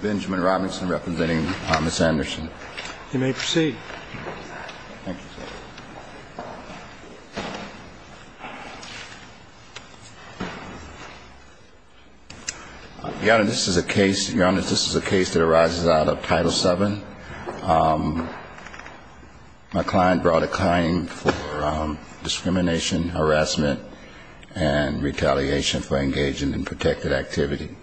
Benjamin Robinson representing Miss Anderson. You may proceed. Thank you, sir. Your honor, this is a case that arises out of Title Seven. My client brought a claim for discrimination, harassment, and retaliation for engaging in protected activity.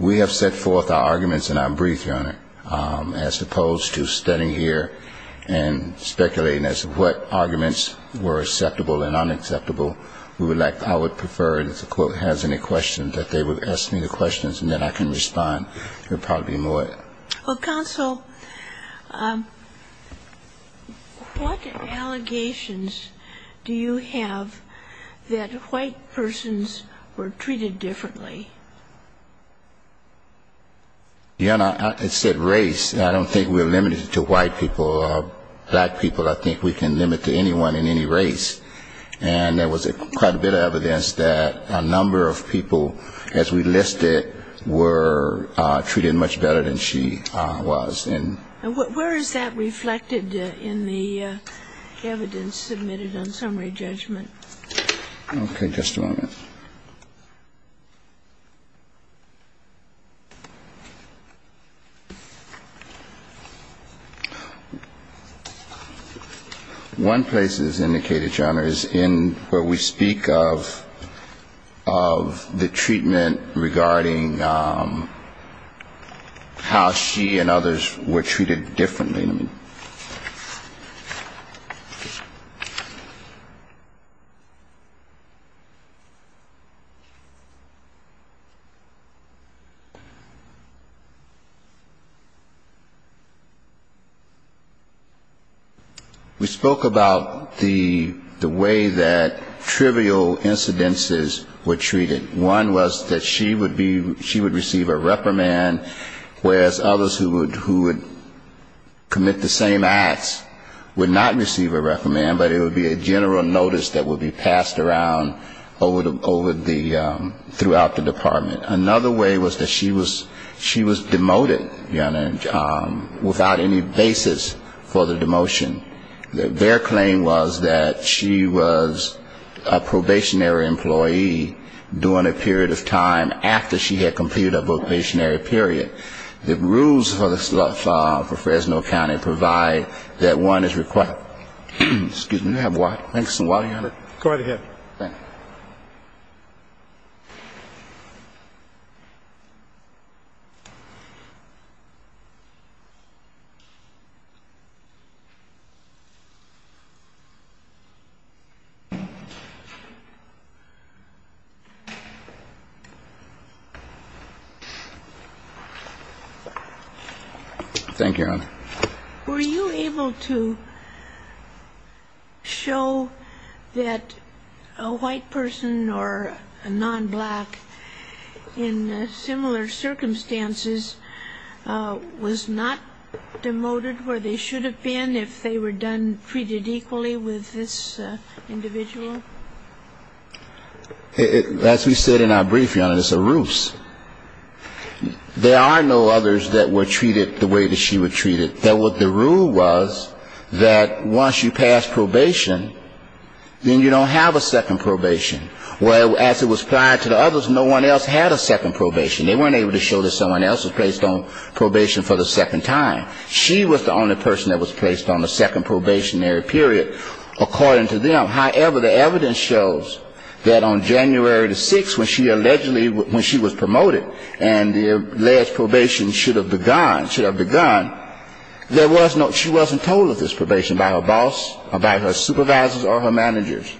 We have set forth our arguments in our brief, your honor, as opposed to standing here and speculating as to what arguments were acceptable and unacceptable. I would prefer if the court has any questions that they would ask me the questions and then I can respond. There would probably be more. Well, counsel, what allegations do you have that white persons were treated differently? Your honor, it said race. I don't think we're limited to white people or black people. I think we can limit to anyone in any race. And there was quite a bit of evidence that a number of people, as we listed, were treated much better than she was. And where is that reflected in the evidence submitted on summary judgment? One place it's indicated, your honor, is in where we speak of the treatment regarding how she and others were treated differently. We spoke about the way that trivial incidences were treated. One was that she would be, she would receive a reprimand, whereas others who would, who would come to her would not receive a reprimand, but it would be a general notice that would be passed around over the, throughout the department. Another way was that she was demoted, your honor, without any basis for the demotion. Their claim was that she was a probationary employee during a period of time after she had completed her probationary period. The rules for Fresno County provide that one is required. Excuse me, do you have some water, your honor? Go right ahead. Thank you. Thank you, your honor. Were you able to show that a white person or a non-black in similar circumstances was not demoted where they should have been if they were done, treated equally with this individual? As we said in our brief, your honor, it's a ruse. There are no others that were treated the way that she was treated. The rule was that once you pass probation, then you don't have a second probation. Well, as it was prior to the others, no one else had a second probation. They weren't able to show that someone else was placed on probation for the second time. She was the only person that was placed on a second probationary period, according to them. However, the evidence shows that on January the 6th, when she allegedly when she was promoted and the alleged probation should have begun, there was no she wasn't told of this probation by her boss or by her supervisors or her managers.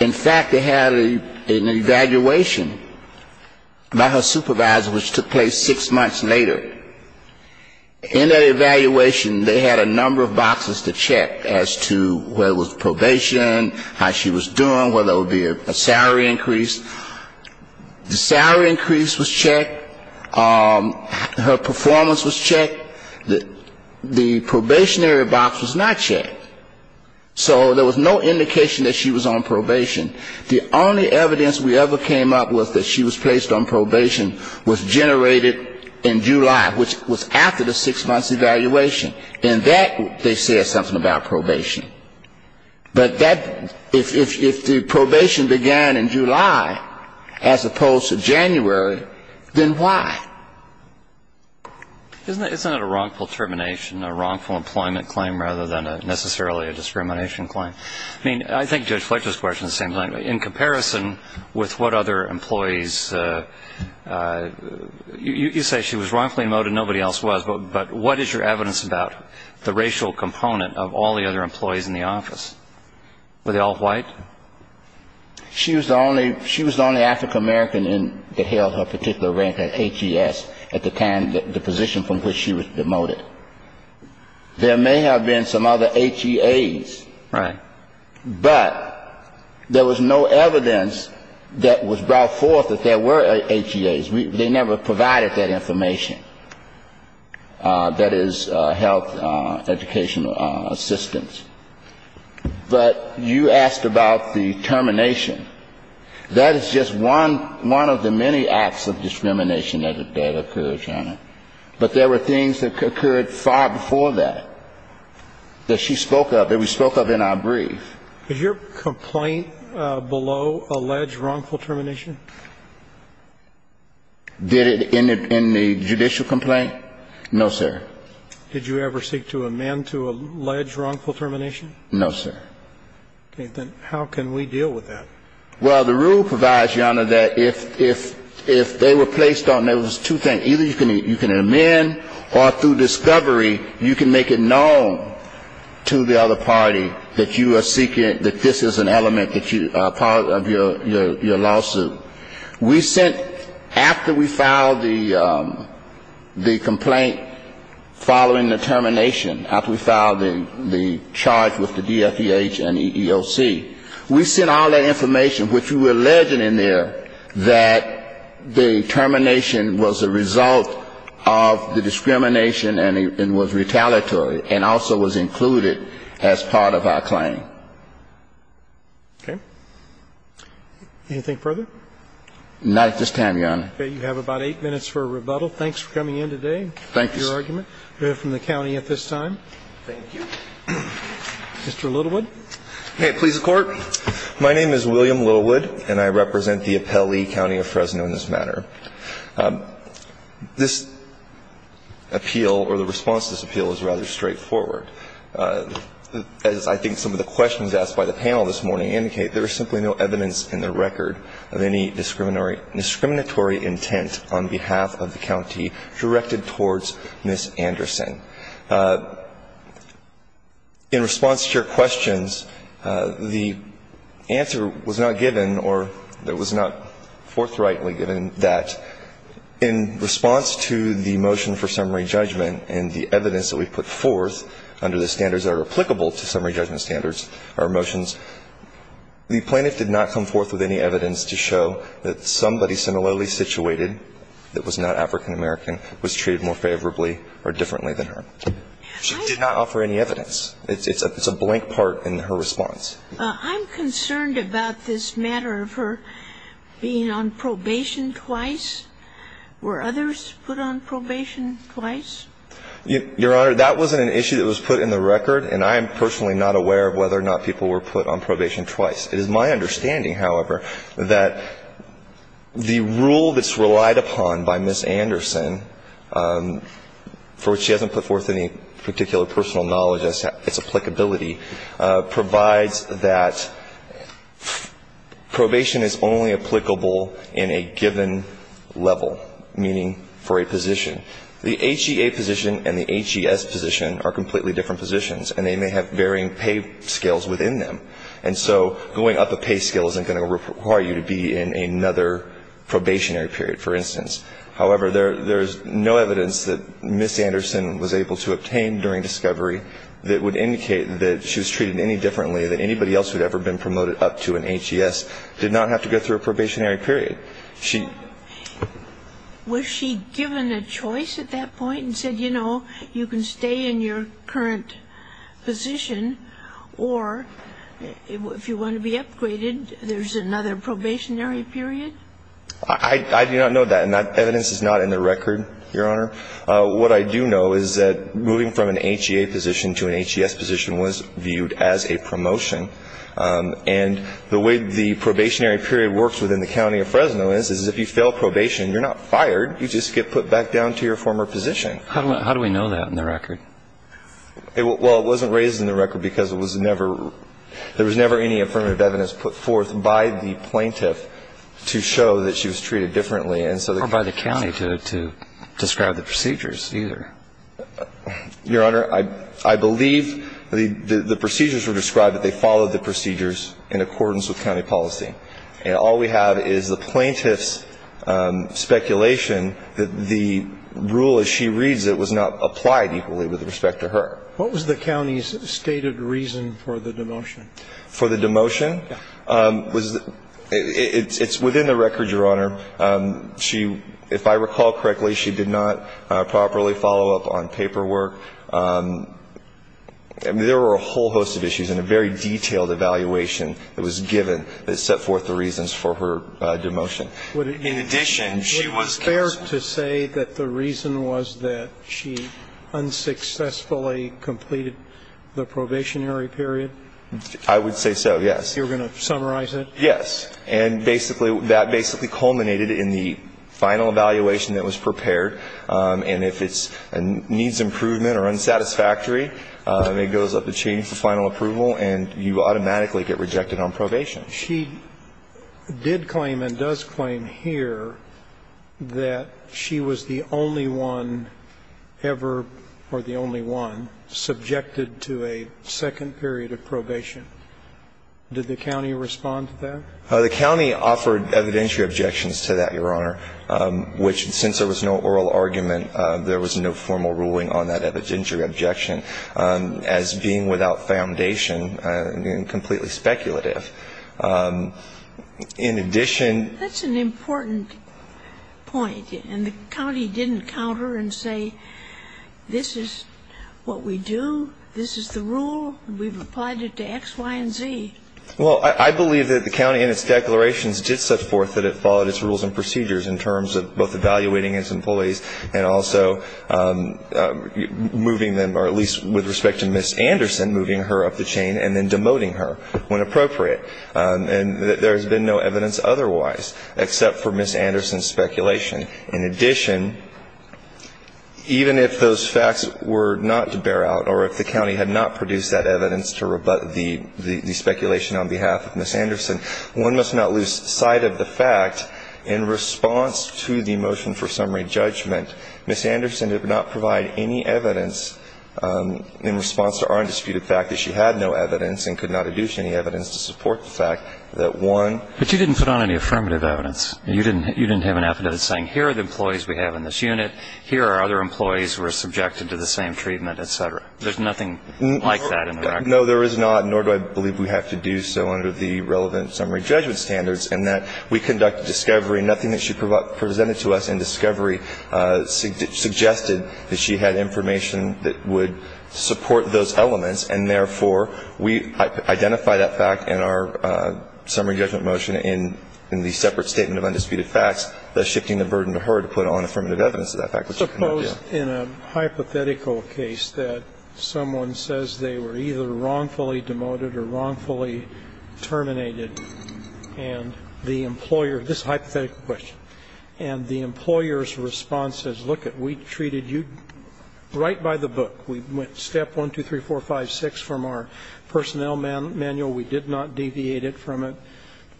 In fact, they had an evaluation by her supervisor, which took place six months later. In that evaluation, they had a number of boxes to check as to whether it was probation, how she was doing, whether it would be a salary increase. The salary increase was checked. Her performance was checked. The probationary box was not checked. So there was no indication that she was on probation. The only evidence we ever came up with that she was placed on probation was generated in July, which was after the six-month evaluation. In that, they said something about probation. But that if the probation began in July, as opposed to January, then why? Isn't it a wrongful termination, a wrongful employment claim rather than necessarily a discrimination claim? I mean, I think Judge Fletcher's question seems like in comparison with what other employees You say she was wrongfully demoted and nobody else was. But what is your evidence about the racial component of all the other employees in the office? Were they all white? She was the only African-American that held her particular rank at HES at the position from which she was demoted. There may have been some other HEAs. Right. But there was no evidence that was brought forth that there were HEAs. They never provided that information, that is, health, educational assistance. But you asked about the termination. That is just one of the many acts of discrimination that occurred, Your Honor. But there were things that occurred far before that, that she spoke of, that we spoke of in our brief. Did your complaint below allege wrongful termination? Did it in the judicial complaint? No, sir. Did you ever seek to amend to allege wrongful termination? No, sir. Okay. Then how can we deal with that? Well, the rule provides, Your Honor, that if they were placed on those two things, either you can amend or through discovery you can make it known to the other party that you are seeking, that this is an element that you are part of your lawsuit. We sent, after we filed the complaint following the termination, after we filed the charge with the DFEH and EEOC, we sent all that information, which we were alleging in there, that the termination was a result of the discrimination and was retaliatory and also was included as part of our claim. Okay. Anything further? Not at this time, Your Honor. Okay. You have about eight minutes for a rebuttal. Thanks for coming in today. Thank you, sir. Your argument. We have from the county at this time. Thank you. Mr. Littlewood. May it please the Court. My name is William Littlewood, and I represent the Appellee County of Fresno in this matter. This appeal or the response to this appeal is rather straightforward. As I think some of the questions asked by the panel this morning indicate, there is simply no evidence in the record of any discriminatory intent on behalf of the county directed towards Ms. Anderson. In response to your questions, the answer was not given or it was not forthrightly given that in response to the motion for summary judgment and the evidence that we put forth, under the standards that are applicable to summary judgment standards, our motions, the plaintiff did not come forth with any evidence to show that somebody similarly situated that was not African-American was treated more favorably or differently than her. She did not offer any evidence. It's a blank part in her response. I'm concerned about this matter of her being on probation twice. Were others put on probation twice? Your Honor, that wasn't an issue that was put in the record, and I am personally not aware of whether or not people were put on probation twice. It is my understanding, however, that the rule that's relied upon by Ms. Anderson, for which she hasn't put forth any particular personal knowledge as to its applicability, provides that probation is only applicable in a given level, meaning for a position. The HEA position and the HES position are completely different positions, and they may have varying pay scales within them. And so going up a pay scale isn't going to require you to be in another probationary period, for instance. However, there's no evidence that Ms. Anderson was able to obtain during discovery that would indicate that she was treated any differently than anybody else who had ever been promoted up to an HES did not have to go through a probationary period. Was she given a choice at that point and said, you know, you can stay in your current position, or if you want to be upgraded, there's another probationary period? I do not know that, and that evidence is not in the record, Your Honor. What I do know is that moving from an HEA position to an HES position was viewed as a promotion, and the way the probationary period works within the county of Fresno is, is if you fail probation, you're not fired. You just get put back down to your former position. How do we know that in the record? Well, it wasn't raised in the record because it was never – there was never any affirmative evidence put forth by the plaintiff to show that she was treated differently, and so the – Or by the county to describe the procedures either. Your Honor, I believe the procedures were described that they followed the procedures in accordance with county policy, and all we have is the plaintiff's speculation that the rule as she reads it was not applied equally with respect to her. What was the county's stated reason for the demotion? For the demotion? Yeah. It's within the record, Your Honor. She – if I recall correctly, she did not properly follow up on paperwork. I mean, there were a whole host of issues and a very detailed evaluation that was given that set forth the reasons for her demotion. In addition, she was – Would it be fair to say that the reason was that she unsuccessfully completed the probationary period? I would say so, yes. You're going to summarize it? Yes. And basically – that basically culminated in the final evaluation that was prepared, and if it's a needs improvement or unsatisfactory, it goes up the chain for final approval, and you automatically get rejected on probation. She did claim and does claim here that she was the only one ever – or the only one subjected to a second period of probation. Did the county respond to that? The county offered evidentiary objections to that, Your Honor, which, since there was no oral argument, there was no formal ruling on that evidentiary objection as being without foundation and completely speculative. In addition – That's an important point, and the county didn't counter and say this is what we do, this is the rule, we've applied it to X, Y, and Z. Well, I believe that the county in its declarations did set forth that it followed its rules and procedures in terms of both evaluating its employees and also moving them, or at least with respect to Ms. Anderson, moving her up the chain and then demoting her when appropriate. And there has been no evidence otherwise except for Ms. Anderson's speculation. In addition, even if those facts were not to bear out or if the county had not produced that evidence to rebut the speculation on behalf of Ms. Anderson, one must not lose sight of the fact in response to the motion for summary judgment, Ms. Anderson did not provide any evidence in response to our undisputed fact that she had no evidence and could not adduce any evidence to support the fact that one – But you didn't put on any affirmative evidence. You didn't have an affidavit saying here are the employees we have in this unit, here are other employees who are subjected to the same treatment, et cetera. There's nothing like that in the record. No, there is not, nor do I believe we have to do so under the relevant summary judgment standards, in that we conducted discovery and nothing that she presented to us in discovery suggested that she had information that would support those elements, and therefore, we identify that fact in our summary judgment motion in the separate statement of undisputed facts, thus shifting the burden to her to put on affirmative evidence to that fact, which she could not do. Suppose in a hypothetical case that someone says they were either wrongfully demoted or wrongfully terminated, and the employer – this is a hypothetical question – and the employer's response is, lookit, we treated you right by the book. We went step 1, 2, 3, 4, 5, 6 from our personnel manual. We did not deviate it from it.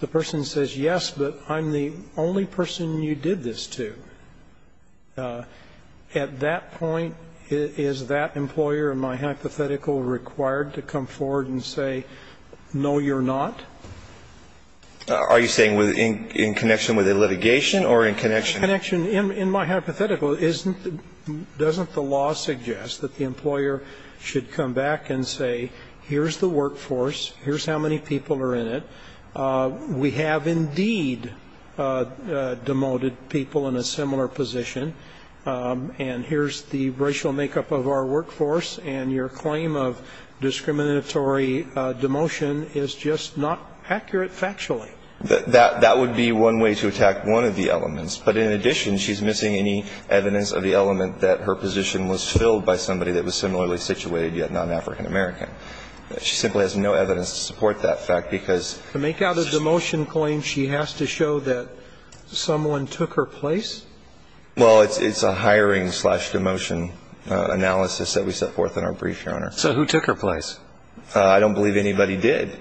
The person says, yes, but I'm the only person you did this to. At that point, is that employer in my hypothetical required to come forward and say, no, you're not? Are you saying in connection with a litigation or in connection? In my hypothetical, doesn't the law suggest that the employer should come back and say, here's the workforce, here's how many people are in it, we have indeed demoted people in a similar position, and here's the racial makeup of our workforce, and your claim of discriminatory demotion is just not accurate factually? That would be one way to attack one of the elements. But in addition, she's missing any evidence of the element that her position was filled by somebody that was similarly situated, yet not an African-American. She simply has no evidence to support that fact, because – To make out a demotion claim, she has to show that someone took her place? Well, it's a hiring-slash-demotion analysis that we set forth in our brief, Your Honor. So who took her place? I don't believe anybody did.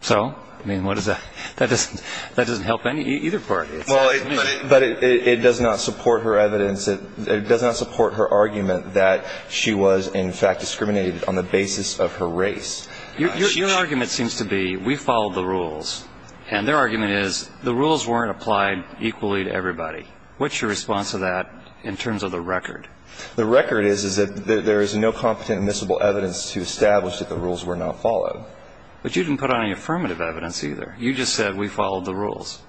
So? I mean, what is that? That doesn't help either party. But it does not support her evidence. It does not support her argument that she was, in fact, discriminated on the basis of her race. Your argument seems to be, we followed the rules, and their argument is, the rules weren't applied equally to everybody. What's your response to that in terms of the record? The record is that there is no competent admissible evidence to establish that the rules were not followed. But you didn't put on any affirmative evidence either. You just said, we followed the rules.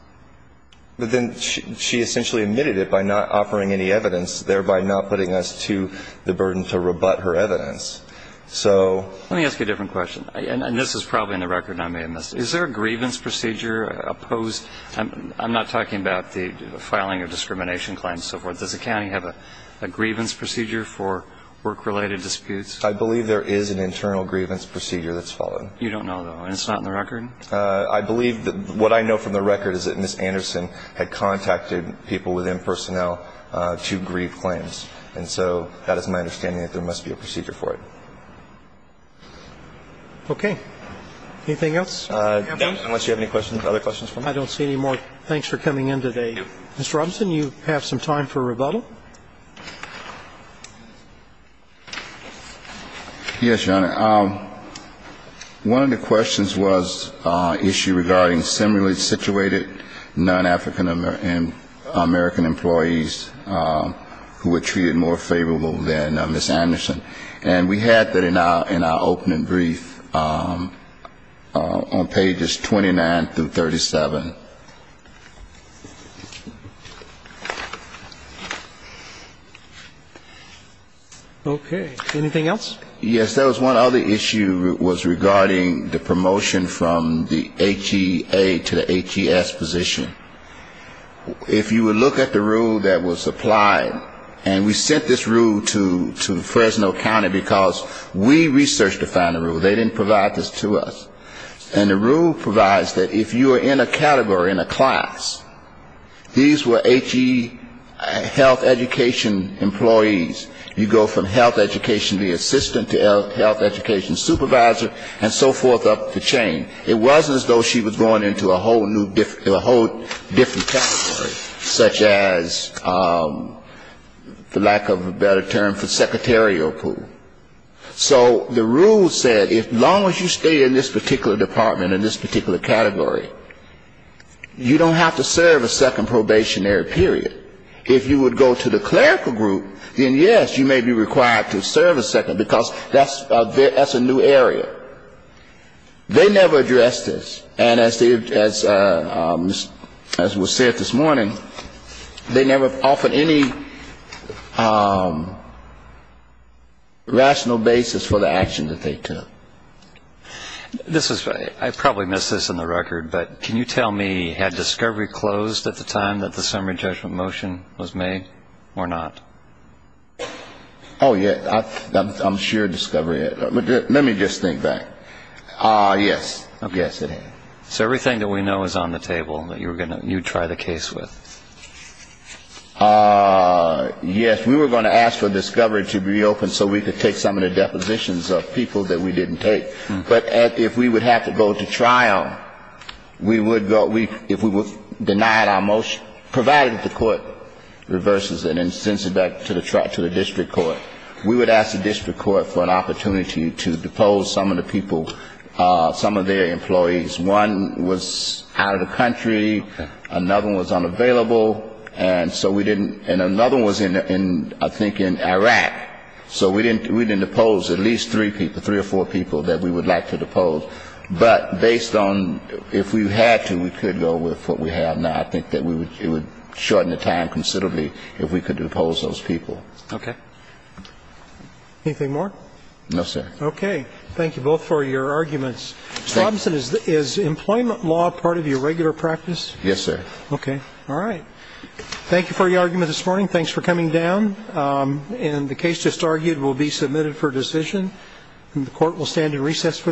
But then she essentially admitted it by not offering any evidence, thereby not putting us to the burden to rebut her evidence. So – Let me ask you a different question. And this is probably in the record, and I may have missed it. Is there a grievance procedure opposed? I'm not talking about the filing of discrimination claims and so forth. Does the county have a grievance procedure for work-related disputes? I believe there is an internal grievance procedure that's followed. You don't know, though, and it's not in the record? I believe that – what I know from the record is that Ms. Anderson had contacted people within personnel to grieve claims. And so that is my understanding that there must be a procedure for it. Okay. Anything else? Unless you have any questions, other questions for me? I don't see any more. Thanks for coming in today. Mr. Robinson, you have some time for rebuttal. Yes, Your Honor. One of the questions was an issue regarding similarly situated non-African American employees who were treated more favorable than Ms. Anderson. And we had that in our opening brief on pages 29 through 37. Okay. Anything else? Yes, there was one other issue was regarding the promotion from the HEA to the HES position. If you would look at the rule that was applied, and we sent this rule to Fresno County because we researched to find a rule. They didn't provide this to us. And the rule provides that if you are in a category, in a class, these were HE health education employees. You go from health education assistant to health education supervisor and so forth up the chain. It wasn't as though she was going into a whole different category, such as, for lack of a better term, for secretarial pool. So the rule said as long as you stay in this particular department, in this particular category, you don't have to serve a second probationary period. If you would go to the clerical group, then, yes, you may be required to serve a second, because that's a new area. They never addressed this. And as was said this morning, they never offered any rational basis for the action that they took. This is, I probably missed this in the record, but can you tell me, had discovery closed at the time that the summary judgment motion was made or not? Oh, yeah, I'm sure discovery, let me just think back. Yes, yes, it had. So everything that we know is on the table that you would try the case with? Yes, we were going to ask for discovery to be open so we could take some of the depositions of people that we didn't take. But if we would have to go to trial, we would go, if we denied our motion, provided the court reverses it and sends it back to the district court, we would ask the district court for an opportunity to depose some of the people, some of their employees. And we had a couple of people that were in the civil and so we didn't, and another one was in, I think, in Iraq. So we didn't depose at least three people, three or four people that we would like to depose. But based on if we had to, we could go with what we have now. I think that it would shorten the time considerably if we could depose those people. Okay. Anything more? No, sir. Okay. Thank you both for your arguments. Mr. Robinson, is employment law part of your regular practice? Yes, sir. Okay. All right. Thank you for your argument this morning. Thanks for coming down. And the case just argued will be submitted for decision and the court will stand in recess for the day.